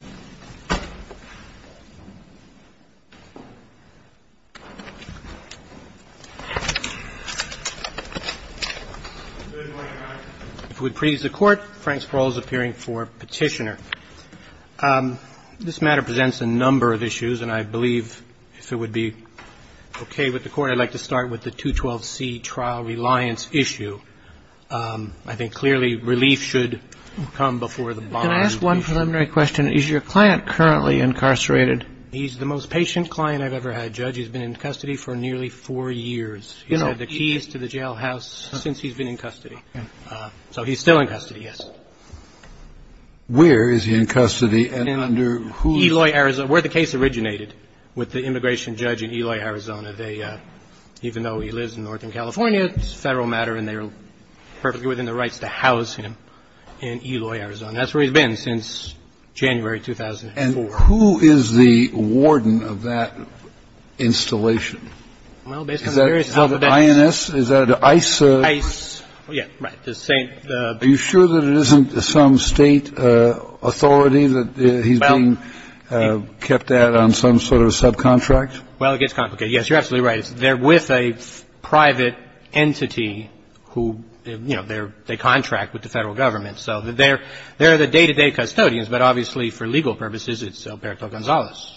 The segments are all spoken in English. Good morning, Your Honor. If it would please the Court, Frank Sproul is appearing for petitioner. This matter presents a number of issues, and I believe if it would be okay with the Court, I'd like to start with the 212C trial reliance issue. I think clearly relief should come before the bond. Can I ask one preliminary question? Is your client currently incarcerated? He's the most patient client I've ever had, Judge. He's been in custody for nearly four years. He's had the keys to the jailhouse since he's been in custody. So he's still in custody, yes. Where is he in custody, and under whose? Eloy, Arizona, where the case originated, with the immigration judge in Eloy, Arizona. Even though he lives in Northern California, it's a federal matter, and that's where he's been since January 2004. And who is the warden of that installation? Well, based on the various alphabetics. Is that INS? Is that ICE? ICE, yeah, right, the same. Are you sure that it isn't some state authority that he's being kept at on some sort of subcontract? Well, it gets complicated. Yes, you're absolutely right. They're with a private entity who, you know, they contract with the federal government. So they're the day-to-day custodians, but obviously for legal purposes, it's Alberto Gonzalez.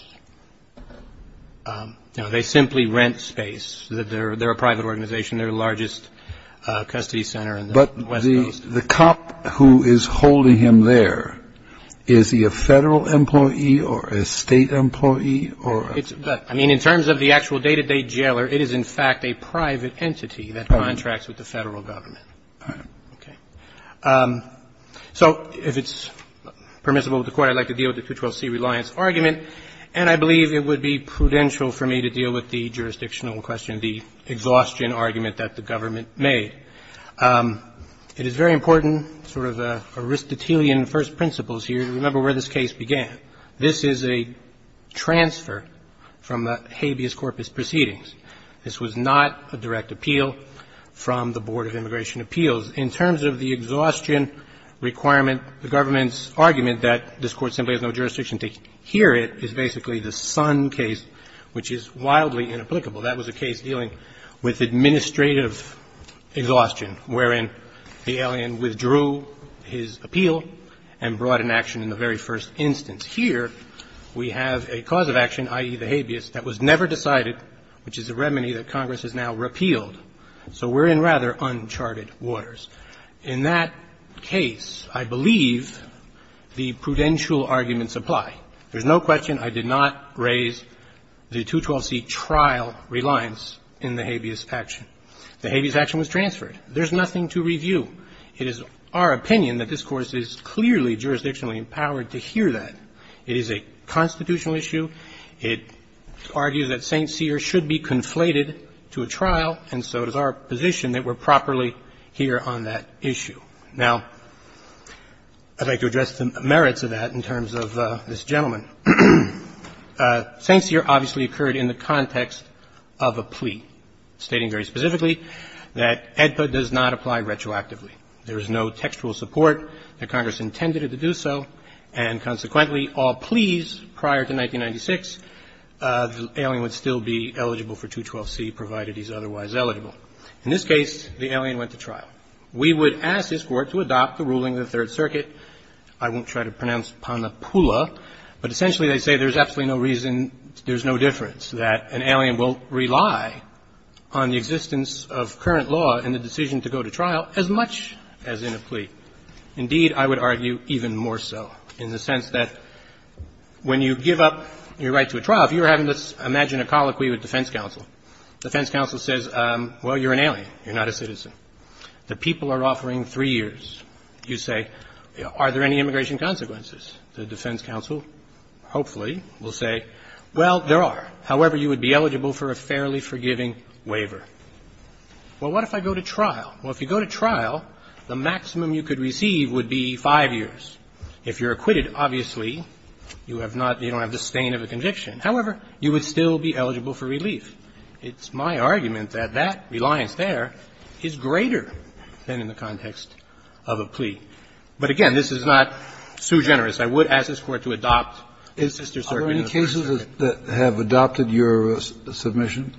You know, they simply rent space. They're a private organization. They're the largest custody center in the west coast. But the cop who is holding him there, is he a federal employee or a state employee or a? I mean, in terms of the actual day-to-day jailer, it is in fact a private entity that contracts with the federal government. All right. Okay. So if it's permissible to quote, I'd like to deal with the 212C reliance argument. And I believe it would be prudential for me to deal with the jurisdictional question, the exhaustion argument that the government made. It is very important, sort of Aristotelian first principles here. Remember where this case began. This is a transfer from the habeas corpus proceedings. This was not a direct appeal from the Board of Immigration Appeals. In terms of the exhaustion requirement, the government's argument that this Court simply has no jurisdiction to hear it is basically the Son case, which is wildly inapplicable. That was a case dealing with administrative exhaustion, wherein the alien withdrew his appeal and brought an action in the very first instance. Here we have a cause of action, i.e., the habeas, that was never decided, which is a remedy that Congress has now repealed. So we're in rather uncharted waters. In that case, I believe the prudential arguments apply. There's no question I did not raise the 212C trial reliance in the habeas action. The habeas action was transferred. There's nothing to review. It is our opinion that this Court is clearly jurisdictionally empowered to hear that. It is a constitutional issue. It argues that St. Cyr should be conflated to a trial, and so it is our position that we're properly here on that issue. Now, I'd like to address the merits of that in terms of this gentleman. St. Cyr obviously occurred in the context of a plea, stating very specifically that AEDPA does not apply retroactively. There is no textual support that Congress intended it to do so, and consequently, all pleas prior to 1996, the alien would still be eligible for 212C, provided he's otherwise eligible. In this case, the alien went to trial. We would ask this Court to adopt the ruling of the Third Circuit. I won't try to pronounce Pannapulla, but essentially they say there's absolutely no reason, there's no difference, that an alien will rely on the existence of current law in the decision to go to trial as much as in a plea. Indeed, I would argue even more so, in the sense that when you give up your right to a trial, if you were having to imagine a colloquy with defense counsel, defense counsel says, well, you're an alien, you're not a citizen. The people are offering three years. You say, are there any immigration consequences? The defense counsel, hopefully, will say, well, there are. However, you would be eligible for a fairly forgiving waiver. Well, what if I go to trial? Well, if you go to trial, the maximum you could receive would be 5 years. If you're acquitted, obviously, you have not, you don't have the stain of a conviction. However, you would still be eligible for relief. It's my argument that that reliance there is greater than in the context of a plea. But again, this is not so generous. I would ask this Court to adopt Sister Circuit. Kennedy, are there any cases that have adopted your submission?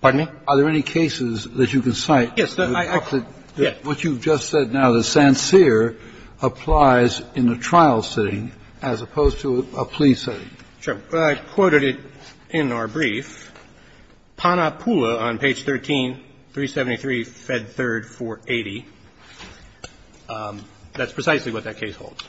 Pardon me? Are there any cases that you can cite? Yes. What you've just said now, the sancire applies in a trial sitting as opposed to a plea setting. Sure. I quoted it in our brief. Panapula on page 13, 373, Fed 3rd, 480. That's precisely what that case holds.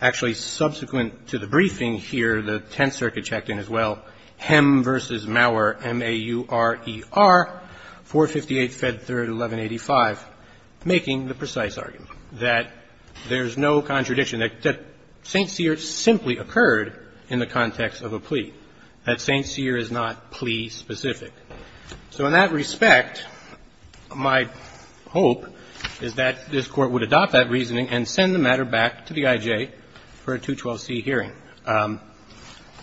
Actually, subsequent to the briefing here, the Tenth Circuit checked in as well. Hemm v. Mauer, M-A-U-R-E-R, 458, Fed 3rd, 1185, making the precise argument that there's no contradiction, that sancire simply occurred in the context of a plea. That sancire is not plea-specific. So in that respect, my hope is that this Court would adopt that reasoning and send the matter back to the I.J. for a 212C hearing.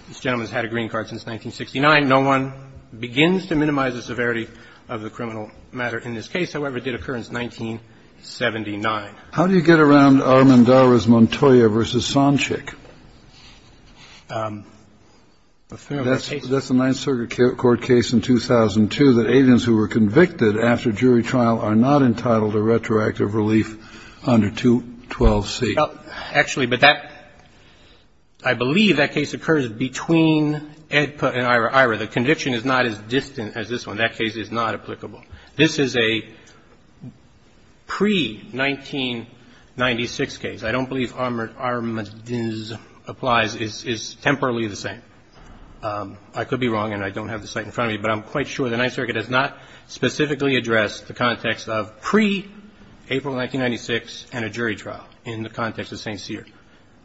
This gentleman's had a green card since 1969. No one begins to minimize the severity of the criminal matter in this case. However, it did occur in 1979. How do you get around Armendariz-Montoya v. Sancic? That's the Ninth Circuit court case in 2002 that aliens who were convicted after jury trial are not entitled to retroactive relief under 212C. Actually, but that – I believe that case occurs between Edpa and Ira. Ira, the conviction is not as distant as this one. That case is not applicable. This is a pre-1996 case. I don't believe Armendariz-Montoya applies is temporarily the same. I could be wrong and I don't have the site in front of me, but I'm quite sure the Ninth Circuit has not specifically addressed the context of pre-April 1996 and a jury trial in the context of sancire.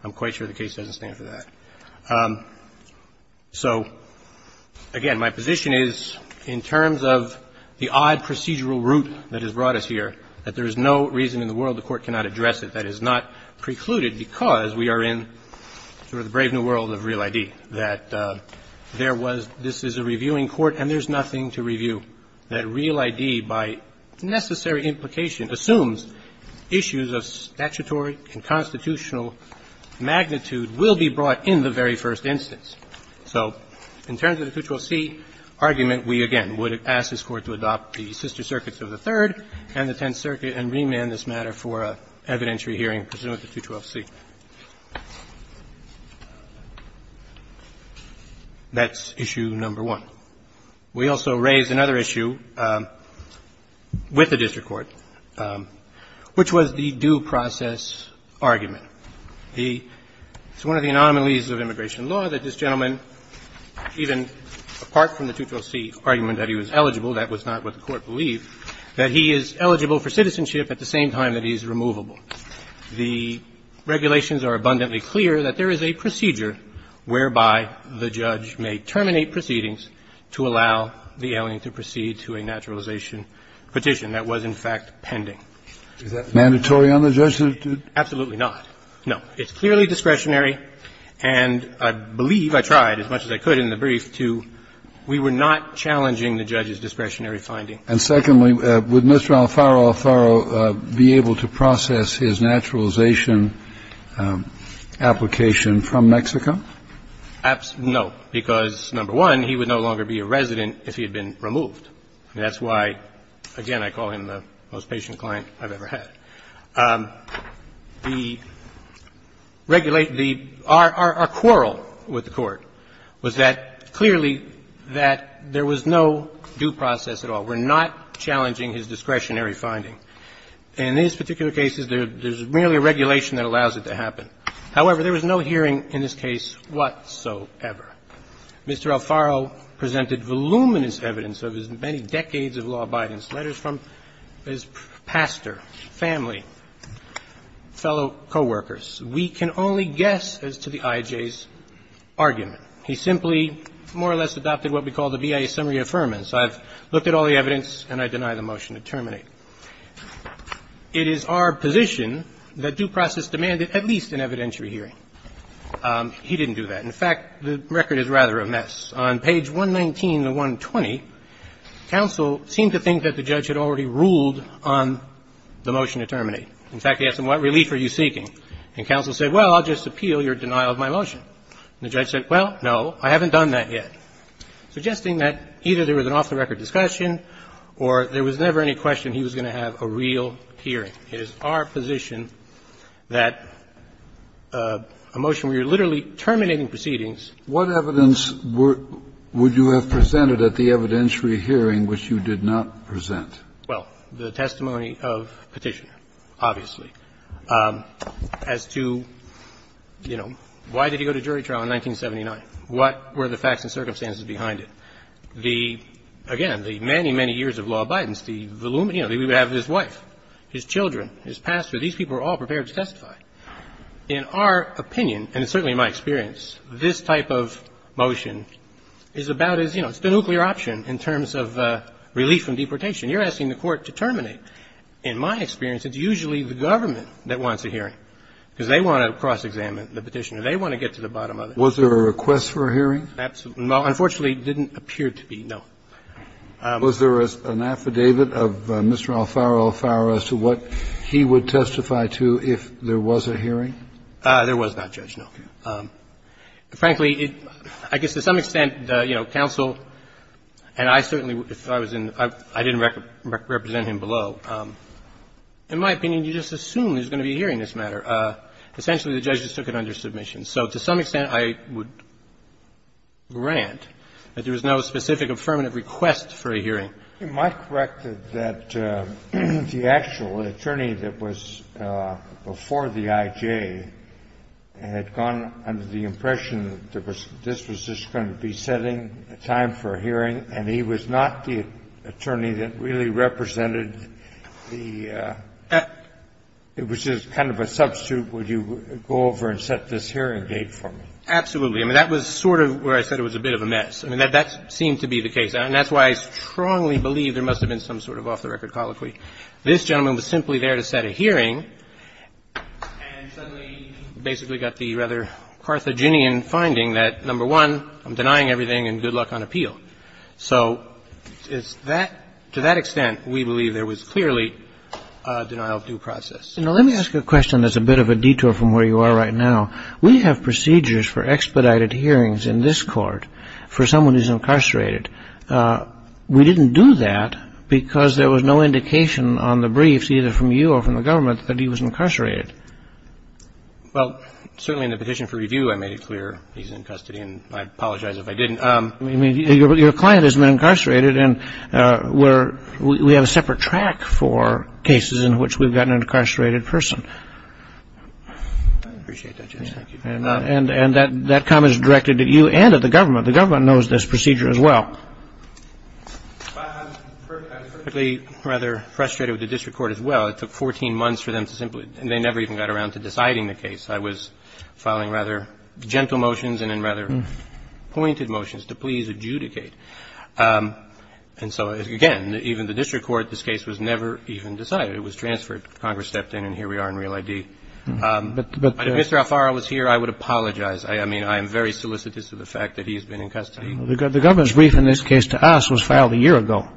I'm quite sure the case doesn't stand for that. So, again, my position is in terms of the odd procedural route that has brought us here, that there is no reason in the world the Court cannot address it. That is not precluded because we are in sort of the brave new world of Real ID. That there was – this is a reviewing court and there's nothing to review. That Real ID, by necessary implication, assumes issues of statutory and constitutional magnitude will be brought in the very first instance. So in terms of the 212C argument, we again would ask this Court to adopt the sister circuits of the Third and the Tenth Circuit and remand this matter for an evidentiary hearing pursuant to 212C. That's issue number one. We also raise another issue with the district court, which was the due process argument. The – it's one of the anomalies of immigration law that this gentleman, even apart from the 212C argument that he was eligible, that was not what the Court believed, that he is eligible for citizenship at the same time that he is removable. The regulations are abundantly clear that there is a procedure whereby the judge may terminate proceedings to allow the alien to proceed to a naturalization petition. That was, in fact, pending. Is that mandatory on the judgment? Absolutely not. No. It's clearly discretionary, and I believe, I tried as much as I could in the brief, to – we were not challenging the judge's discretionary finding. And secondly, would Mr. Alfaro Alfaro be able to process his naturalization application from Mexico? No, because, number one, he would no longer be a resident if he had been removed. That's why, again, I call him the most patient client I've ever had. The – our quarrel with the Court was that, clearly, that there was no due process at all. We're not challenging his discretionary finding. In these particular cases, there's merely a regulation that allows it to happen. However, there was no hearing in this case whatsoever. Mr. Alfaro presented voluminous evidence of his many decades of law abidance, letters from his pastor, family, fellow co-workers. We can only guess as to the IJ's argument. He simply more or less adopted what we call the BIA summary affirmance. I've looked at all the evidence, and I deny the motion to terminate. It is our position that due process demanded at least an evidentiary hearing. He didn't do that. In fact, the record is rather a mess. On page 119 to 120, counsel seemed to think that the judge had already ruled on the motion to terminate. In fact, he asked them, what relief are you seeking? And counsel said, well, I'll just appeal your denial of my motion. And the judge said, well, no, I haven't done that yet, suggesting that either there was an off-the-record discussion or there was never any question he was going to have a real hearing. It is our position that a motion where you're literally terminating proceedings What evidence would you have presented at the evidentiary hearing which you did not present? Well, the testimony of Petitioner, obviously. As to, you know, why did he go to jury trial in 1979? What were the facts and circumstances behind it? The, again, the many, many years of law abidance, the, you know, he would have his wife, his children, his pastor. These people are all prepared to testify. In our opinion, and certainly my experience, this type of motion is about as, you know, it's the nuclear option in terms of relief from deportation. You're asking the Court to terminate. In my experience, it's usually the government that wants a hearing, because they want to cross-examine the Petitioner. They want to get to the bottom of it. Was there a request for a hearing? Absolutely. Well, unfortunately, it didn't appear to be, no. Was there an affidavit of Mr. Alfaro Alfaro as to what he would testify to if there was a hearing? There was not, Judge, no. Okay. Frankly, I guess to some extent, you know, counsel, and I certainly, if I was in the room, I didn't represent him below. In my opinion, you just assume there's going to be a hearing in this matter. Essentially, the judge just took it under submission. So to some extent, I would grant that there was no specific affirmative request for a hearing. Your Honor, am I corrected that the actual attorney that was before the I.J. had gone under the impression that this was just going to be setting a time for a hearing and he was not the attorney that really represented the – it was just kind of a substitute, would you go over and set this hearing date for me? Absolutely. I mean, that was sort of where I said it was a bit of a mess. I mean, that seemed to be the case. And that's why I strongly believe there must have been some sort of off-the-record colloquy. This gentleman was simply there to set a hearing and suddenly basically got the rather Carthaginian finding that, number one, I'm denying everything and good luck on appeal. So is that – to that extent, we believe there was clearly a denial-of-due process. Now, let me ask a question that's a bit of a detour from where you are right now. We have procedures for expedited hearings in this court for someone who's incarcerated. We didn't do that because there was no indication on the briefs, either from you or from the government, that he was incarcerated. Well, certainly in the petition for review, I made it clear he's in custody and I apologize if I didn't. I mean, your client has been incarcerated and we're – we have a separate track for cases in which we've got an incarcerated person. I appreciate that, Justice. And that comment is directed at you and at the government. The government knows this procedure as well. I was particularly rather frustrated with the district court as well. It took 14 months for them to simply – they never even got around to deciding the case. I was filing rather gentle motions and then rather pointed motions to please adjudicate. And so, again, even the district court, this case was never even decided. It was transferred. Congress stepped in and here we are in real ID. If Mr. Alfaro was here, I would apologize. I mean, I am very solicitous of the fact that he has been in custody. The government's brief in this case to us was filed a year ago.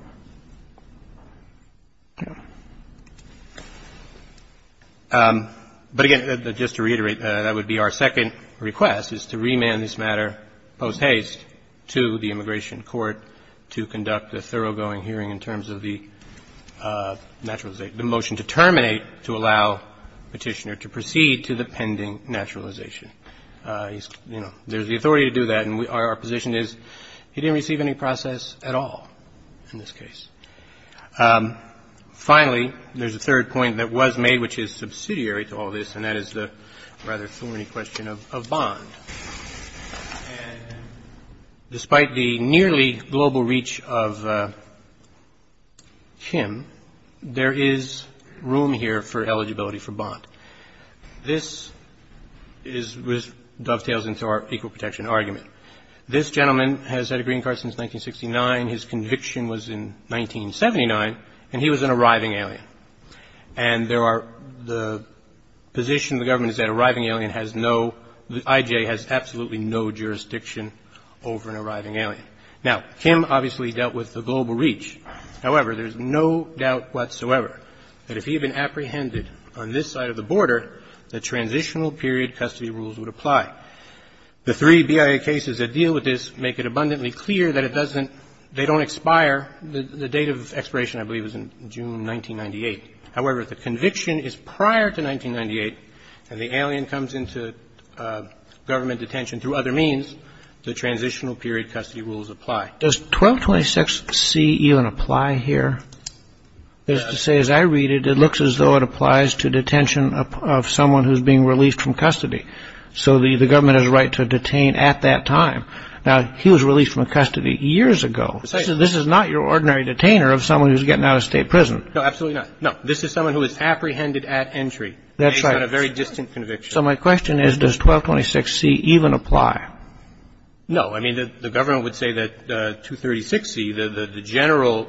But, again, just to reiterate, that would be our second request, is to remand this matter post haste to the petitioner to proceed to the pending naturalization. You know, there's the authority to do that, and our position is he didn't receive any process at all in this case. Finally, there's a third point that was made, which is subsidiary to all this, and that is the rather thorny question of bond. And despite the nearly global reach of him, there is room here for eligibility for bond. This dovetails into our equal protection argument. This gentleman has had a green card since 1969. His conviction was in 1979, and he was an arriving alien. And there are the position of the government is that arriving alien has no, the IJA has absolutely no jurisdiction over an arriving alien. Now, Kim obviously dealt with the global reach. However, there's no doubt whatsoever that if he had been apprehended on this side of the border, the transitional period custody rules would apply. The three BIA cases that deal with this make it abundantly clear that it doesn't, they don't expire. The date of expiration, I believe, is in June 1998. However, if the conviction is prior to 1998 and the alien comes into government detention through other means, the transitional period custody rules apply. Does 1226C even apply here? It says, I read it, it looks as though it applies to detention of someone who's being released from custody. So the government has a right to detain at that time. Now, he was released from custody years ago. This is not your ordinary detainer of someone who's getting out of state prison. No, absolutely not. No. This is someone who is apprehended at entry. That's right. Based on a very distant conviction. So my question is, does 1226C even apply? No. I mean, the government would say that 236C, the general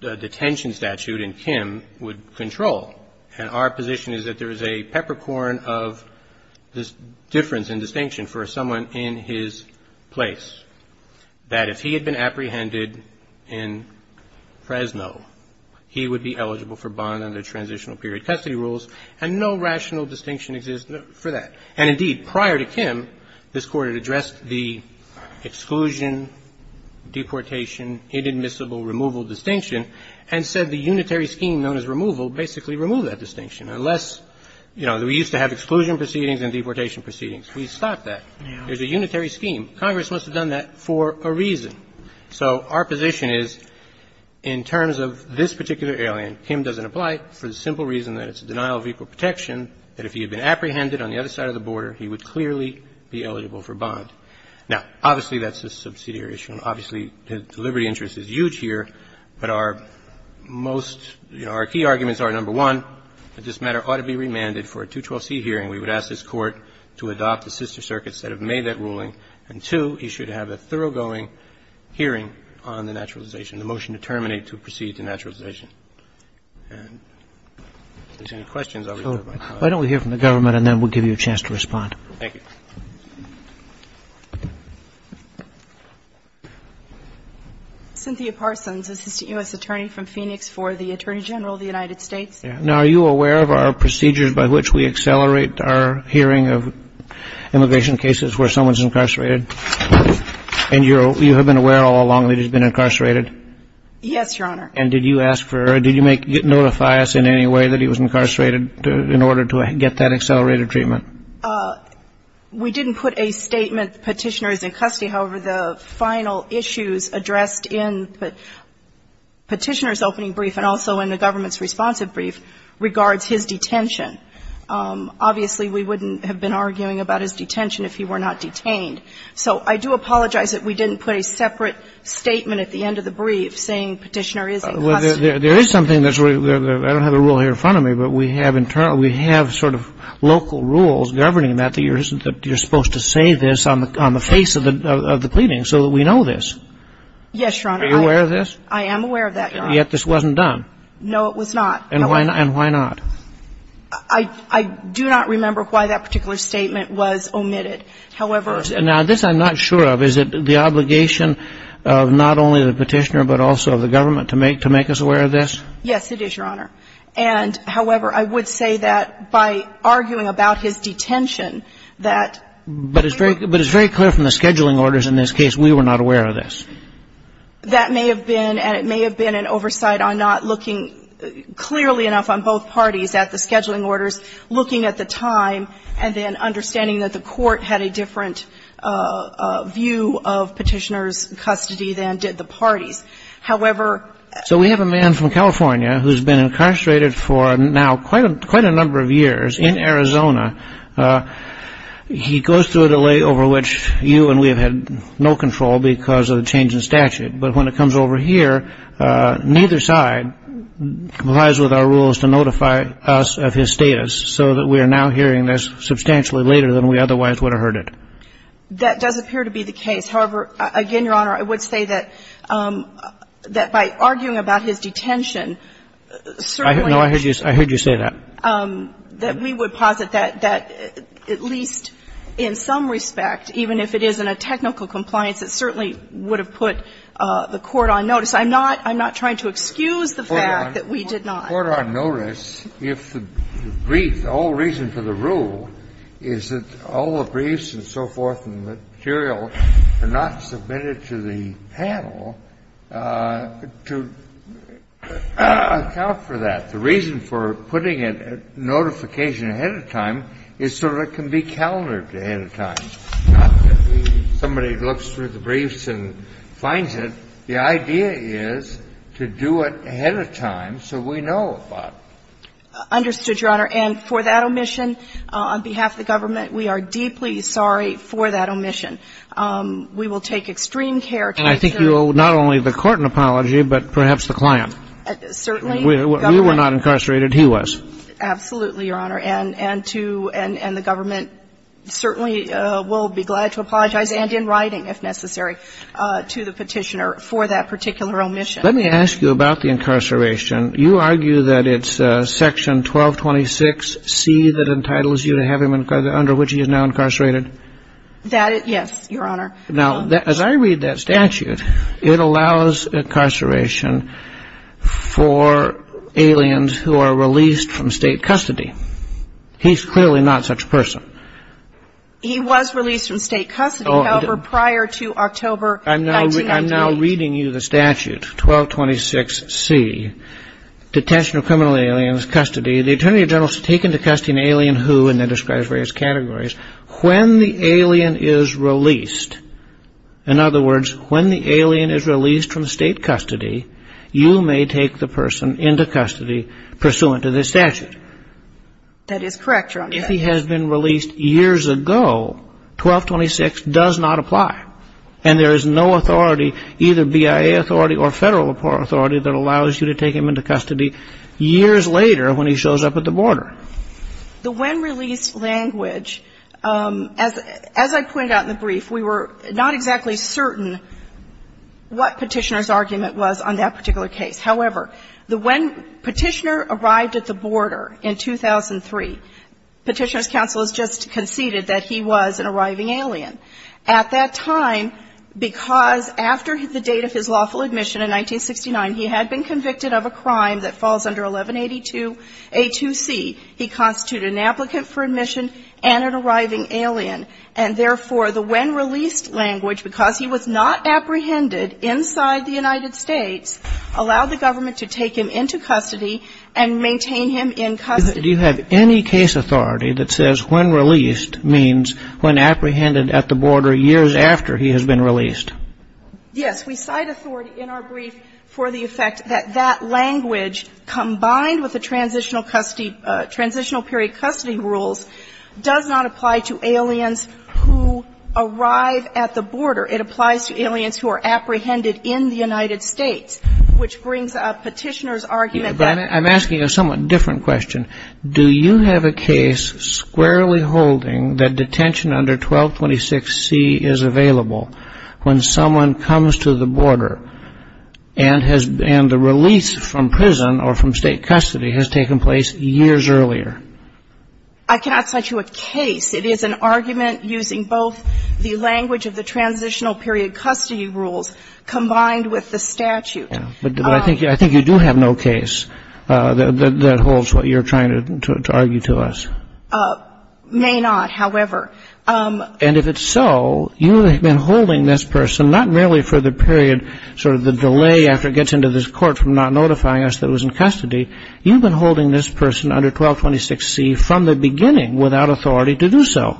detention statute in Kim, would control. And our position is that there is a peppercorn of this difference in distinction for someone in his place, that if he had been apprehended in Fresno, he would be eligible for bond under transitional period custody rules, and no rational distinction exists for that. And indeed, prior to Kim, this Court had addressed the exclusion, deportation, inadmissible removal distinction, and said the unitary scheme known as removal basically removed that distinction. Unless, you know, we used to have exclusion proceedings and deportation proceedings. We stopped that. There's a unitary scheme. Congress must have done that for a reason. So our position is, in terms of this particular alien, Kim doesn't apply for the simple reason that it's a denial of equal protection, that if he had been apprehended on the other side of the border, he would clearly be eligible for bond. Now, obviously, that's a subsidiary issue. Obviously, the liberty interest is huge here, but our most key arguments are, number one, that this matter ought to be remanded for a 212C hearing. We would ask this Court to adopt the sister circuits that have made that ruling. And, two, he should have a thoroughgoing hearing on the naturalization, the motion to terminate to proceed to naturalization. And if there's any questions, I'll return to my colleague. Roberts. Why don't we hear from the government, and then we'll give you a chance to respond. Thank you. Cynthia Parsons, Assistant U.S. Attorney from Phoenix for the Attorney General of the United States. Now, are you aware of our procedures by which we accelerate our hearing of immigration cases where someone's incarcerated? And you have been aware all along that he's been incarcerated? Yes, Your Honor. And did you ask for or did you notify us in any way that he was incarcerated in order to get that accelerated treatment? We didn't put a statement, Petitioner is in custody. However, the final issues addressed in Petitioner's opening brief and also in the government's responsive brief regards his detention. Obviously, we wouldn't have been arguing about his detention if he were not detained. So I do apologize that we didn't put a separate statement at the end of the brief saying Petitioner is in custody. Well, there is something that's really – I don't have a rule here in front of me, but we have sort of local rules governing that, that you're supposed to say this on the face of the pleading so that we know this. Yes, Your Honor. Are you aware of this? I am aware of that, Your Honor. Yet this wasn't done. No, it was not. And why not? I do not remember why that particular statement was omitted. However – Now, this I'm not sure of. Is it the obligation of not only the Petitioner but also of the government to make us aware of this? Yes, it is, Your Honor. And, however, I would say that by arguing about his detention that – But it's very clear from the scheduling orders in this case we were not aware of this. That may have been – and it may have been an oversight on not looking clearly enough on both parties at the scheduling orders, looking at the time, and then understanding that the court had a different view of Petitioner's custody than did the parties. However – So we have a man from California who's been incarcerated for now quite a number of years in Arizona. He goes through a delay over which you and we have had no control because of the change in statute. But when it comes over here, neither side complies with our rules to notify us of his status. So that we are now hearing this substantially later than we otherwise would have heard it. That does appear to be the case. However, again, Your Honor, I would say that by arguing about his detention – No, I heard you say that. That we would posit that at least in some respect, even if it is in a technical compliance, it certainly would have put the court on notice. I'm not trying to excuse the fact that we did not. The court on notice, if the brief, the whole reason for the rule is that all the briefs and so forth and the material are not submitted to the panel to account for that. The reason for putting it at notification ahead of time is so that it can be calendared ahead of time. Not that somebody looks through the briefs and finds it. The idea is to do it ahead of time so we know about it. Understood, Your Honor. And for that omission, on behalf of the government, we are deeply sorry for that omission. We will take extreme care to ensure – And I think you owe not only the court an apology, but perhaps the client. Certainly. We were not incarcerated. He was. Absolutely, Your Honor. And to – and the government certainly will be glad to apologize, and in writing if necessary, to the Petitioner for that particular omission. Let me ask you about the incarceration. You argue that it's Section 1226C that entitles you to have him under which he is now incarcerated? That is – yes, Your Honor. Now, as I read that statute, it allows incarceration for aliens who are released from state custody. He's clearly not such a person. He was released from state custody, however, prior to October 1998. I'm now reading you the statute, 1226C, detention of criminal aliens, custody. The attorney general is to take into custody an alien who, and it describes various categories. When the alien is released, in other words, when the alien is released from state custody, you may take the person into custody pursuant to this statute. That is correct, Your Honor. If he has been released years ago, 1226 does not apply. And there is no authority, either BIA authority or federal authority, that allows you to take him into custody years later when he shows up at the border. However, the when-release language, as I pointed out in the brief, we were not exactly certain what Petitioner's argument was on that particular case. However, the when Petitioner arrived at the border in 2003, Petitioner's counsel has just conceded that he was an arriving alien. At that time, because after the date of his lawful admission in 1969, he had been convicted of a crime that falls under 1182a2c, he constituted an applicant for admission and an arriving alien. And therefore, the when-release language, because he was not apprehended inside the United States, allowed the government to take him into custody and maintain him in custody. Do you have any case authority that says when released means when apprehended at the border years after he has been released? Yes. We cite authority in our brief for the effect that that language, combined with the transitional custody, transitional period custody rules, does not apply to aliens who arrive at the border. It applies to aliens who are apprehended in the United States, which brings up Petitioner's argument that I'm asking a somewhat different question. Do you have a case squarely holding that detention under 1226c is available when someone comes to the border and the release from prison or from state custody has taken place years earlier? I cannot cite you a case. It is an argument using both the language of the transitional period custody rules combined with the statute. But I think you do have no case that holds what you're trying to argue to us. May not, however. And if it's so, you have been holding this person not merely for the period, sort of the delay after it gets into this court from not notifying us that it was in custody. You've been holding this person under 1226c from the beginning without authority to do so.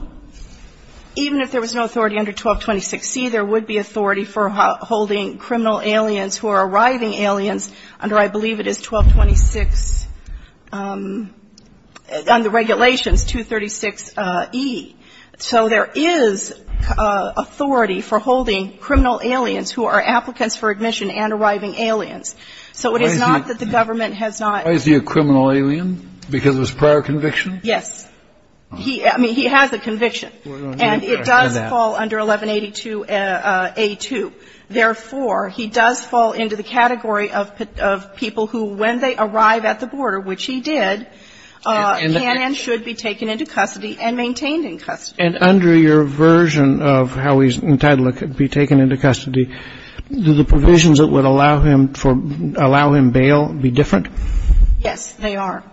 Even if there was no authority under 1226c, there would be authority for holding criminal aliens who are arriving aliens under I believe it is 1226, on the regulations, 236e. So there is authority for holding criminal aliens who are applicants for admission and arriving aliens. So it is not that the government has not ---- Why is he a criminal alien? Because of his prior conviction? Yes. I mean, he has a conviction. And it does fall under 1182a2. Therefore, he does fall into the category of people who, when they arrive at the border, which he did, can and should be taken into custody and maintained in custody. And under your version of how he's entitled to be taken into custody, do the provisions that would allow him for ---- allow him bail be different? Yes, they are.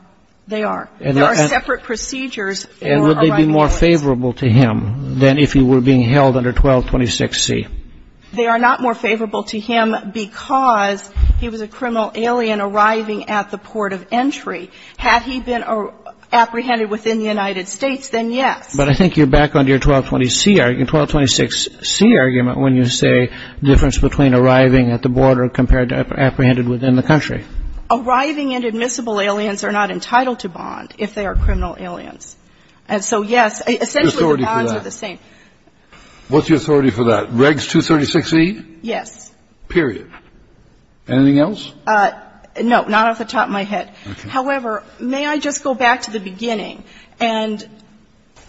They are. There are separate procedures for arriving aliens. And would they be more favorable to him than if he were being held under 1226c? They are not more favorable to him because he was a criminal alien arriving at the border. If he was apprehended within the United States, then yes. But I think you're back on your 1226c argument when you say difference between arriving at the border compared to apprehended within the country. Arriving and admissible aliens are not entitled to bond if they are criminal aliens. And so, yes, essentially the bonds are the same. What's the authority for that? What's the authority for that? Regs 236e? Yes. Period. Anything else? No. Not off the top of my head. Okay. However, may I just go back to the beginning? And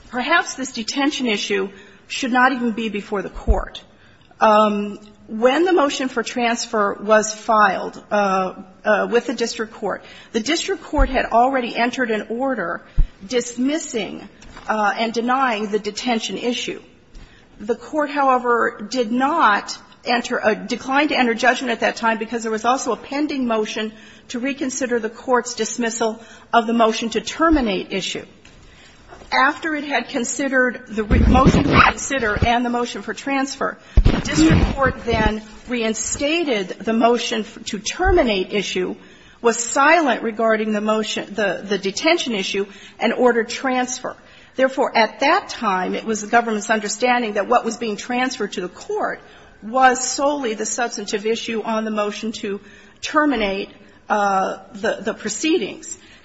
perhaps this detention issue should not even be before the court. When the motion for transfer was filed with the district court, the district court had already entered an order dismissing and denying the detention issue. The court, however, did not enter or declined to enter judgment at that time because there was also a pending motion to reconsider the court's dismissal of the motion to terminate issue. After it had considered the motion to reconsider and the motion for transfer, the district court then reinstated the motion to terminate issue, was silent regarding the motion, the detention issue, and ordered transfer. Therefore, at that time, it was the government's understanding that what was being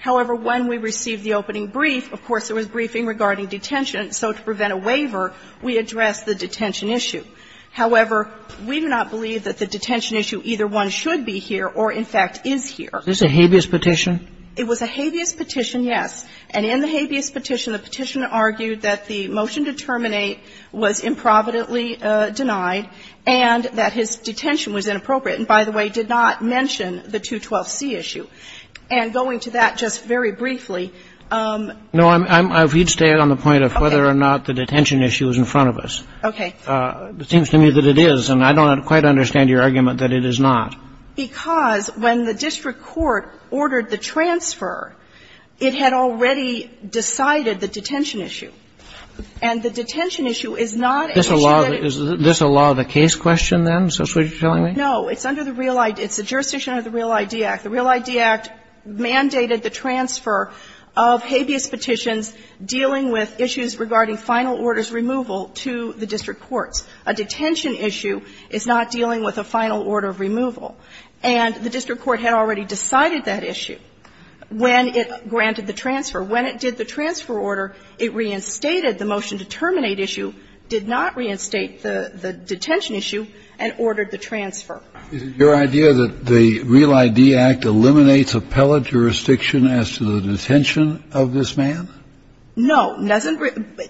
However, when we received the opening brief, of course, there was briefing regarding detention, so to prevent a waiver, we addressed the detention issue. However, we do not believe that the detention issue, either one should be here or, in fact, is here. Is this a habeas petition? It was a habeas petition, yes. And in the habeas petition, the petitioner argued that the motion to terminate was improvidently denied and that his detention was inappropriate. And, by the way, did not mention the 212C issue. And going to that just very briefly. No, I would stay on the point of whether or not the detention issue is in front of us. Okay. It seems to me that it is, and I don't quite understand your argument that it is not. Because when the district court ordered the transfer, it had already decided the detention issue. And the detention issue is not an issue that is Is this a law of the case question, then, is that what you're telling me? No. It's under the real idea. It's the jurisdiction under the Real ID Act. The Real ID Act mandated the transfer of habeas petitions dealing with issues regarding final orders removal to the district courts. A detention issue is not dealing with a final order of removal. And the district court had already decided that issue when it granted the transfer. When it did the transfer order, it reinstated the motion to terminate issue, did not reinstate the detention issue, and ordered the transfer. Is it your idea that the Real ID Act eliminates appellate jurisdiction as to the detention of this man? No, it doesn't.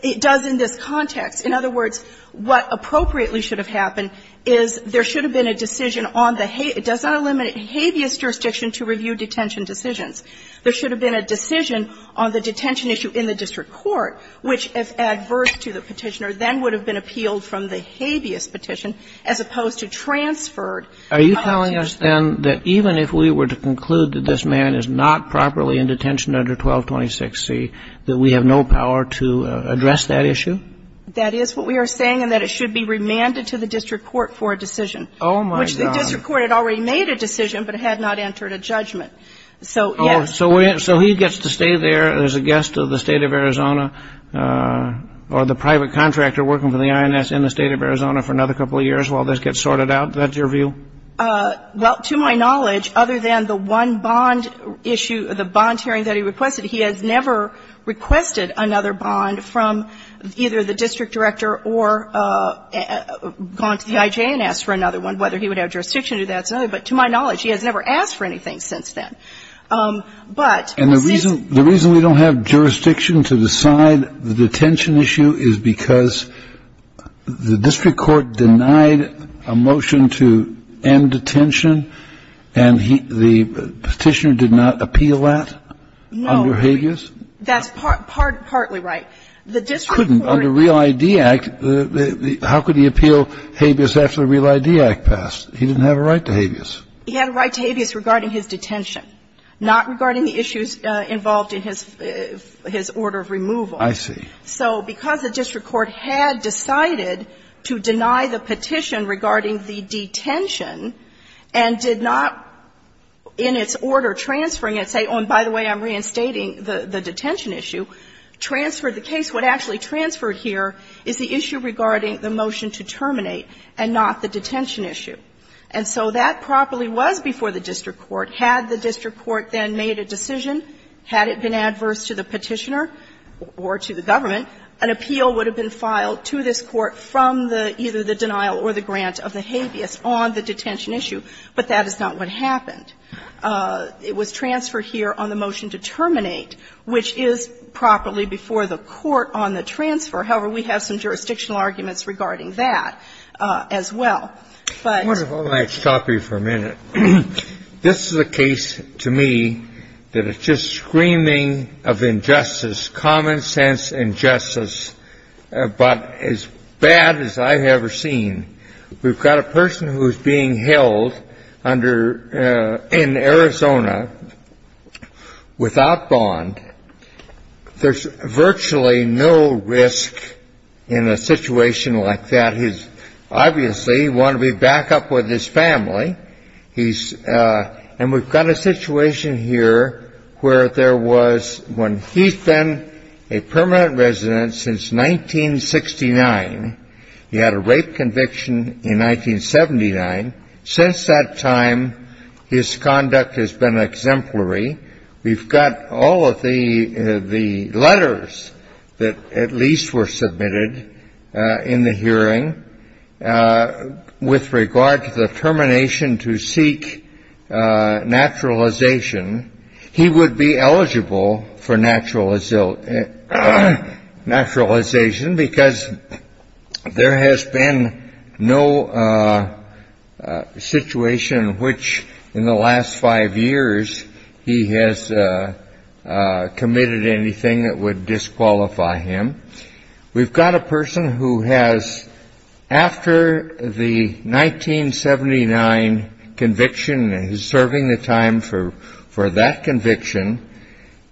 It does in this context. In other words, what appropriately should have happened is there should have been a decision on the habeas. It does not eliminate habeas jurisdiction to review detention decisions. There should have been a decision on the detention issue in the district court, which, if adverse to the petitioner, then would have been appealed from the habeas petition, as opposed to transferred. Are you telling us, then, that even if we were to conclude that this man is not properly in detention under 1226C, that we have no power to address that issue? That is what we are saying, and that it should be remanded to the district court for a decision. Oh, my God. Which the district court had already made a decision, but had not entered a judgment. So, yes. Oh, so he gets to stay there as a guest of the State of Arizona or the private contractor working for the INS in the State of Arizona for another couple of years while this gets sorted out? That's your view? Well, to my knowledge, other than the one bond issue, the bond hearing that he requested, he has never requested another bond from either the district director or gone to the IJ and asked for another one, whether he would have jurisdiction to do that. But to my knowledge, he has never asked for anything since then. But this is the reason we don't have jurisdiction to decide the detention issue is because the district court denied a motion to end detention, and the Petitioner did not appeal that under Habeas? No. That's partly right. The district court couldn't. Under Real ID Act, how could he appeal Habeas after the Real ID Act passed? He didn't have a right to Habeas. He had a right to Habeas regarding his detention, not regarding the issues involved in his order of removal. I see. So because the district court had decided to deny the petition regarding the detention and did not, in its order transferring it, say, oh, and by the way, I'm reinstating the detention issue, transferred the case. What actually transferred here is the issue regarding the motion to terminate and not the detention issue. And so that properly was before the district court. Had the district court then made a decision, had it been adverse to the Petitioner or to the government, an appeal would have been filed to this court from the either the denial or the grant of the Habeas on the detention issue. But that is not what happened. It was transferred here on the motion to terminate, which is properly before the court on the transfer. However, we have some jurisdictional arguments regarding that as well. But. Let's stop you for a minute. This is a case to me that it's just screaming of injustice, common sense injustice, about as bad as I've ever seen. We've got a person who is being held under, in Arizona without bond. There's virtually no risk in a situation like that. He's obviously want to be back up with his family. He's and we've got a situation here where there was one. He's been a permanent resident since 1969. He had a rape conviction in 1979. Since that time, his conduct has been exemplary. We've got all of the letters that at least were submitted in the hearing with regard to the termination to seek naturalization. He would be eligible for naturalization naturalization because there has been no situation which in the last five years he has committed anything that would disqualify him. We've got a person who has after the 1979 conviction is serving the time for for that conviction.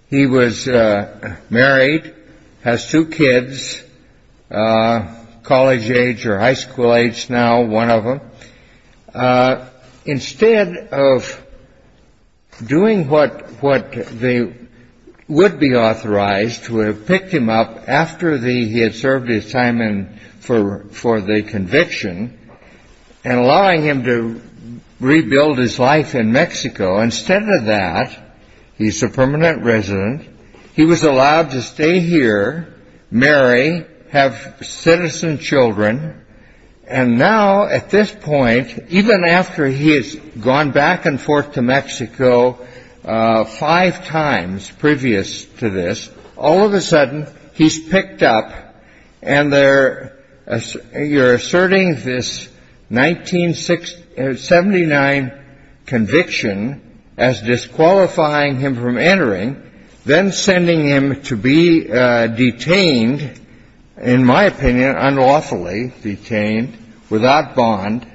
He was married, has two kids, college age or high school age. Instead of doing what what they would be authorized to have picked him up after the he had served his time and for for the conviction and allowing him to rebuild his life in Mexico. Instead of that, he's a permanent resident. He was allowed to stay here, marry, have citizen children. And now at this point, even after he has gone back and forth to Mexico five times previous to this, all of a sudden he's picked up. And you're asserting this 1979 conviction as disqualifying him from entering, then sending him to be detained, in my opinion, unlawfully detained without bond.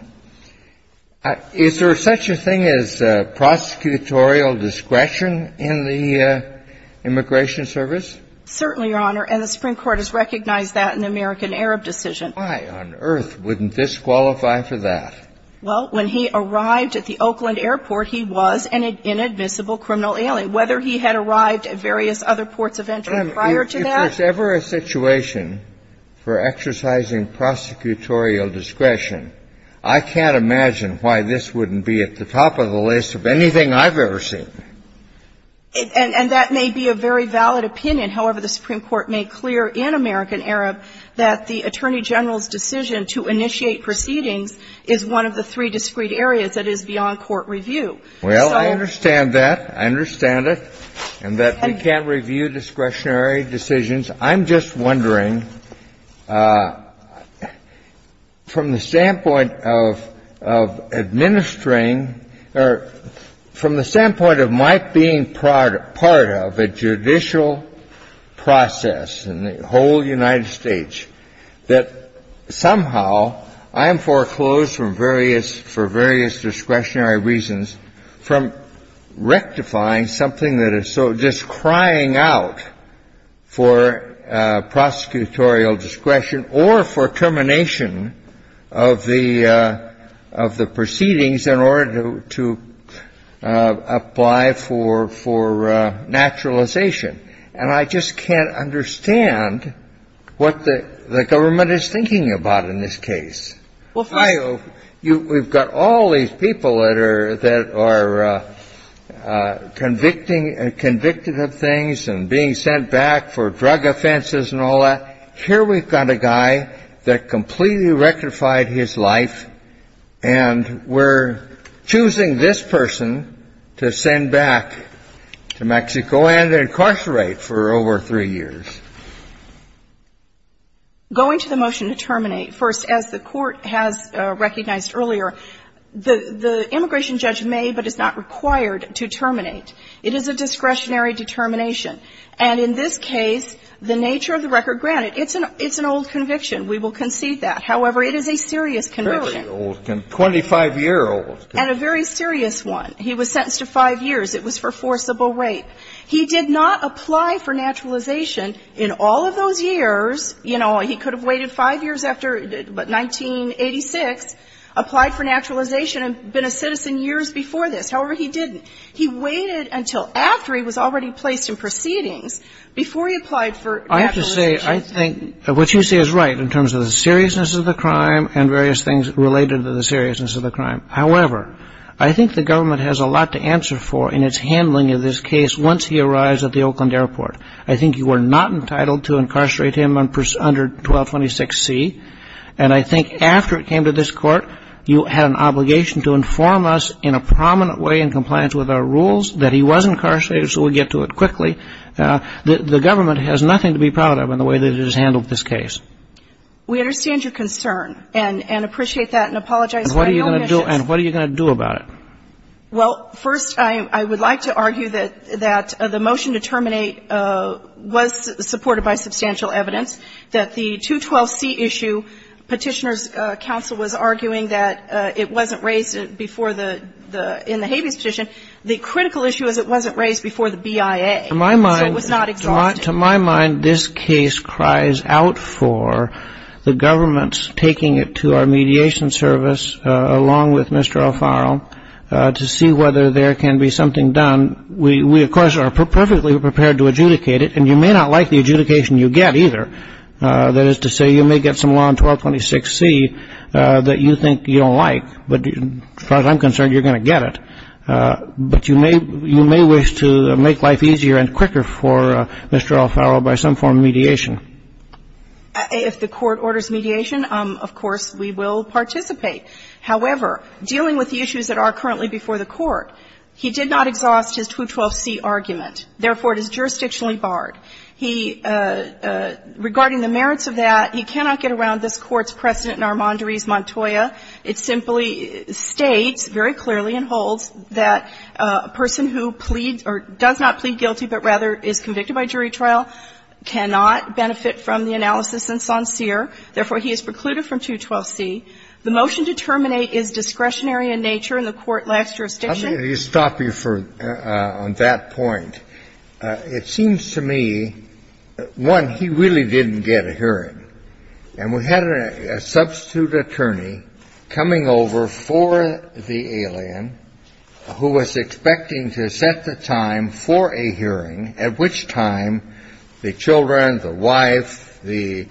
Is there such a thing as prosecutorial discretion in the Immigration Service? Certainly, Your Honor. And the Supreme Court has recognized that in the American-Arab decision. Why on earth wouldn't this qualify for that? Well, when he arrived at the Oakland airport, he was an inadmissible criminal alien. Whether he had arrived at various other ports of entry prior to that. If there's ever a situation for exercising prosecutorial discretion, I can't imagine why this wouldn't be at the top of the list of anything I've ever seen. And that may be a very valid opinion. However, the Supreme Court made clear in American-Arab that the Attorney General's decision to initiate proceedings is one of the three discrete areas that is beyond court review. Well, I understand that. I understand it. And that we can't review discretionary decisions. I'm just wondering, from the standpoint of administering or from the standpoint of my being part of a judicial process in the whole United States, that somehow I am foreclosed for various discretionary reasons from rectifying something that is so disingenuous that it's the equivalent of just crying out for prosecutorial discretion or for termination of the proceedings in order to apply for naturalization. And I just can't understand what the government is thinking about in this case. We've got all these people that are convicting and convicted of things and being sent back for drug offenses and all that. Here we've got a guy that completely rectified his life, and we're choosing this person to send back to Mexico and incarcerate for over three years. Going to the motion to terminate, first, as the Court has recognized earlier, the immigration judge may but is not required to terminate. It is a discretionary determination. And in this case, the nature of the record granted, it's an old conviction. We will concede that. However, it is a serious conviction. Very old. 25-year-old. And a very serious one. He was sentenced to five years. It was for forcible rape. He did not apply for naturalization in all of those years. You know, he could have waited five years after 1986, applied for naturalization and been a citizen years before this. However, he didn't. He waited until after he was already placed in proceedings before he applied for naturalization. I have to say, I think what you say is right in terms of the seriousness of the crime and various things related to the seriousness of the crime. However, I think the government has a lot to answer for in its handling of this case once he arrives at the Oakland Airport. I think you were not entitled to incarcerate him under 1226C. And I think after it came to this Court, you had an obligation to inform us in a prominent way in compliance with our rules that he was incarcerated so we'll get to it quickly. The government has nothing to be proud of in the way that it has handled this case. We understand your concern and appreciate that and apologize for our omissions. And what are you going to do about it? Well, first, I would like to argue that the motion to terminate was supported by substantial evidence, that the 212C issue Petitioner's Counsel was arguing that it wasn't raised before the, in the Habeas petition. The critical issue is it wasn't raised before the BIA. So it was not exhausted. To my mind, this case cries out for the government's taking it to our mediation service, along with Mr. Alfaro, to see whether there can be something done. We, of course, are perfectly prepared to adjudicate it. And you may not like the adjudication you get either. That is to say, you may get some law in 1226C that you think you don't like. But as far as I'm concerned, you're going to get it. But you may wish to make life easier and quicker for Mr. Alfaro by some form of mediation. If the Court orders mediation, of course, we will participate. However, dealing with the issues that are currently before the Court, he did not exhaust his 212C argument. Therefore, it is jurisdictionally barred. He, regarding the merits of that, he cannot get around this Court's precedent in Armanduriz-Montoya. It simply states very clearly and holds that a person who pleads or does not plead guilty, but rather is convicted by jury trial, cannot benefit from the analysis in Sancier. Therefore, he is precluded from 212C. The motion to terminate is discretionary in nature, and the Court lacks jurisdiction. I'm going to stop you on that point. It seems to me, one, he really didn't get a hearing. And we had a substitute attorney coming over for the alien who was expecting to set the time for a hearing at which time the children, the wife, the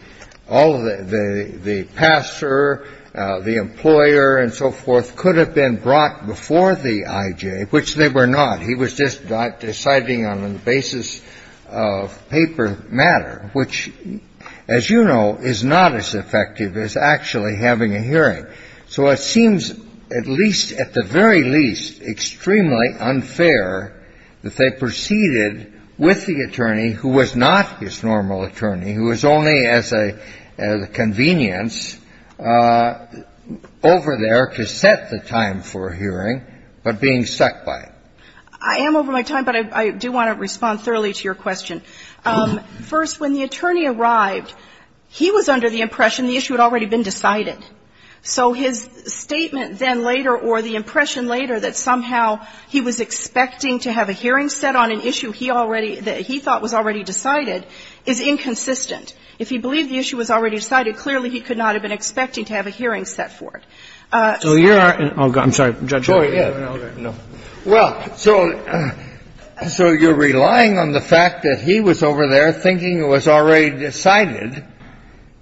all of the the pastor, the employer, and so forth, could have been brought before the I.J., which they were not. He was just deciding on the basis of paper matter, which, as you know, is not as effective as actually having a hearing. So it seems at least, at the very least, extremely unfair that they proceeded with the attorney who was not his normal attorney, who was only as a convenience over there to set the time for a hearing, but being stuck by it. I am over my time, but I do want to respond thoroughly to your question. First, when the attorney arrived, he was under the impression the issue had already been decided. So his statement then later or the impression later that somehow he was expecting to have a hearing set on an issue he already, that he thought was already decided is inconsistent. If he believed the issue was already decided, clearly he could not have been expecting to have a hearing set for it. So you are, oh, I'm sorry, Judge Breyer. No, no, no. Well, so, so you're relying on the fact that he was over there thinking it was already decided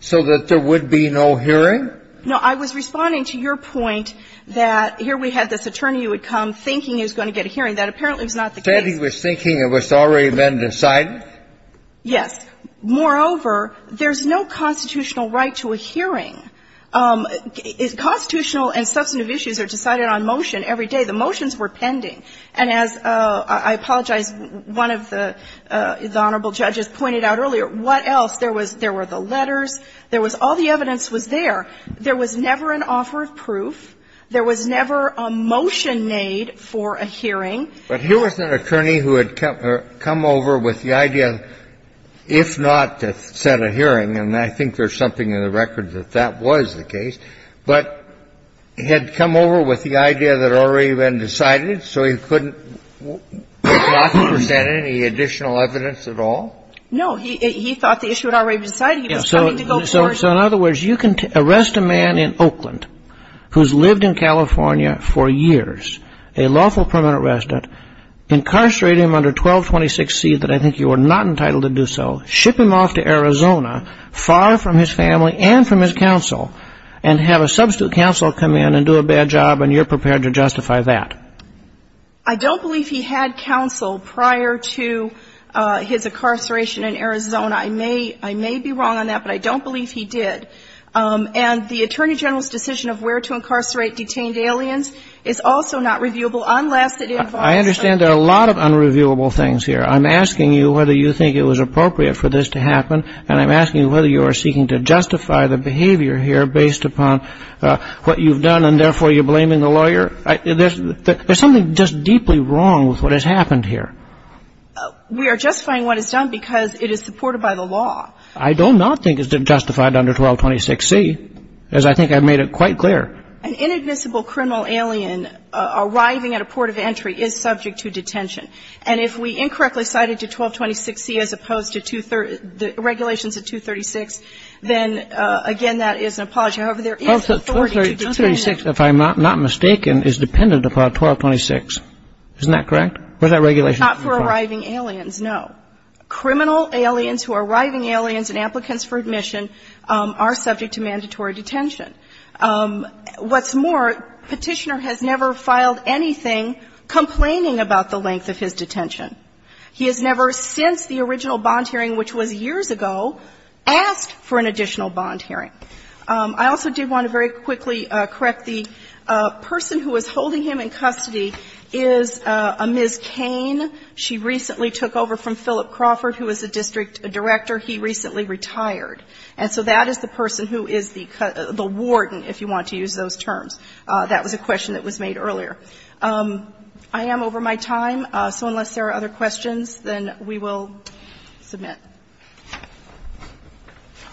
so that there would be no hearing? No. I was responding to your point that here we had this attorney who would come thinking he was going to get a hearing. That apparently was not the case. Said he was thinking it was already been decided? Yes. Moreover, there's no constitutional right to a hearing. Constitutional and substantive issues are decided on motion every day. The motions were pending. And as, I apologize, one of the Honorable Judges pointed out earlier, what else? There was the letters. There was all the evidence was there. There was never an offer of proof. There was never a motion made for a hearing. But here was an attorney who had come over with the idea, if not to set a hearing, and I think there's something in the record that that was the case. But he had come over with the idea that it had already been decided, so he couldn't not present any additional evidence at all? No. He thought the issue had already been decided. He was coming to go forward. So, in other words, you can arrest a man in Oakland who's lived in California for years, a lawful permanent resident, incarcerate him under 1226C that I think you are not entitled to do so, ship him off to Arizona, far from his family and from his counsel, and have a substitute counsel come in and do a bad job, and you're prepared to justify that? I don't believe he had counsel prior to his incarceration in Arizona. I may be wrong on that, but I don't believe he did. And the Attorney General's decision of where to incarcerate detained aliens is also not reviewable unless it involves I understand there are a lot of unreviewable things here. I'm asking you whether you think it was appropriate for this to happen, and I'm asking you whether you are seeking to justify the behavior here based upon what you've done and therefore you're blaming the lawyer? There's something just deeply wrong with what has happened here. We are justifying what is done because it is supported by the law. I do not think it's justified under 1226C, as I think I've made it quite clear. An inadmissible criminal alien arriving at a port of entry is subject to detention. And if we incorrectly cite it to 1226C as opposed to the regulations of 236, then, again, that is an apology. However, there is authority to detain an alien. 1236, if I'm not mistaken, is dependent upon 1226. Isn't that correct? What's that regulation? It's not for arriving aliens, no. Criminal aliens who are arriving aliens and applicants for admission are subject to mandatory detention. What's more, Petitioner has never filed anything complaining about the length of his detention. He has never since the original bond hearing, which was years ago, asked for an additional bond hearing. I also do want to very quickly correct the person who is holding him in custody is a Ms. Cain. She recently took over from Philip Crawford, who is a district director. He recently retired. And so that is the person who is the warden, if you want to use those terms. That was a question that was made earlier. I am over my time, so unless there are other questions, then we will submit.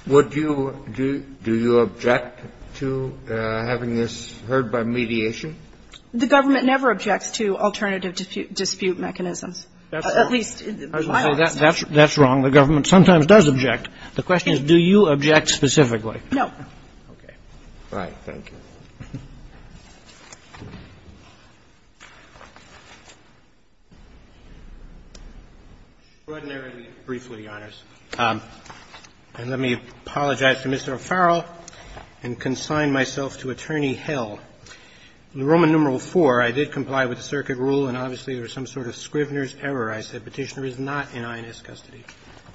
Do you object to having this heard by mediation? The government never objects to alternative dispute mechanisms, at least in my office. That's wrong. The government sometimes does object. The question is, do you object specifically? No. Okay. All right. Thank you. Roberts. Extraordinarily briefly, Your Honors. And let me apologize to Mr. O'Farrell and consign myself to attorney hell. In Roman numeral IV, I did comply with the circuit rule, and obviously there was some sort of Scrivener's error. I said Petitioner is not in INS custody.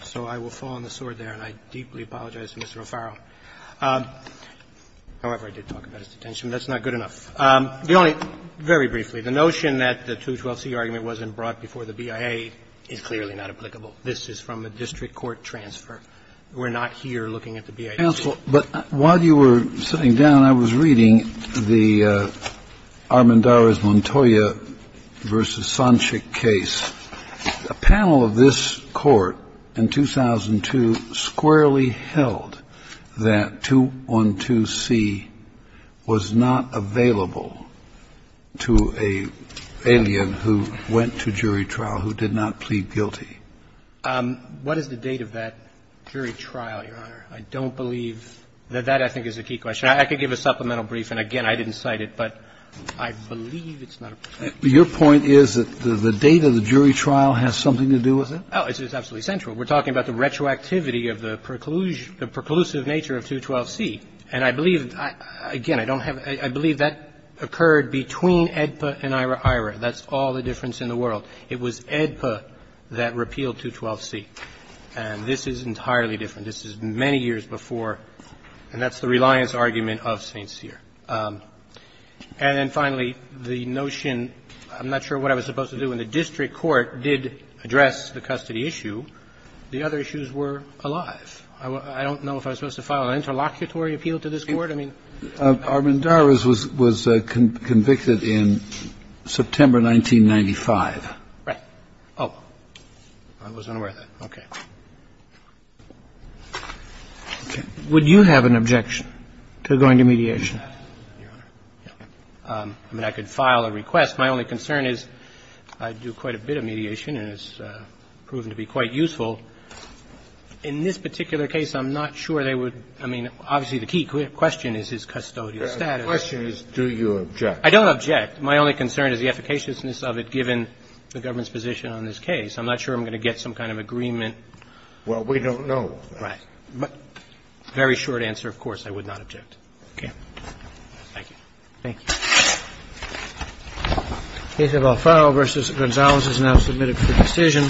So I will fall on the sword there, and I deeply apologize to Mr. O'Farrell. However, I did talk about his detention. That's not good enough. Very briefly, the notion that the 212C argument wasn't brought before the BIA is clearly not applicable. This is from a district court transfer. We're not here looking at the BIA. Counsel, but while you were sitting down, I was reading the Armendariz-Montoya v. Sonchik case. A panel of this Court in 2002 squarely held that 212C was not available to an alien who went to jury trial, who did not plead guilty. What is the date of that jury trial, Your Honor? I don't believe that that, I think, is a key question. I could give a supplemental brief, and again, I didn't cite it, but I believe it's not a brief. Your point is that the date of the jury trial has something to do with it? Oh, it's absolutely central. We're talking about the retroactivity of the preclusive nature of 212C. And I believe, again, I don't have a – I believe that occurred between AEDPA and IHRA. That's all the difference in the world. It was AEDPA that repealed 212C. And this is entirely different. This is many years before, and that's the reliance argument of St. Cyr. And then, finally, the notion – I'm not sure what I was supposed to do. When the district court did address the custody issue, the other issues were alive. I don't know if I was supposed to file an interlocutory appeal to this Court. I mean – Armendariz was convicted in September 1995. Right. Oh. I wasn't aware of that. Okay. Would you have an objection to going to mediation? I mean, I could file a request. My only concern is I do quite a bit of mediation and it's proven to be quite useful. In this particular case, I'm not sure they would – I mean, obviously, the key question is his custodial status. The question is, do you object? I don't object. My only concern is the efficaciousness of it, given the government's position on this case. I'm not sure I'm going to get some kind of agreement. Well, we don't know. Right. Very short answer, of course, I would not object. Okay. Thank you. Thank you. The case of Alfaro v. Gonzalez is now submitted for decision.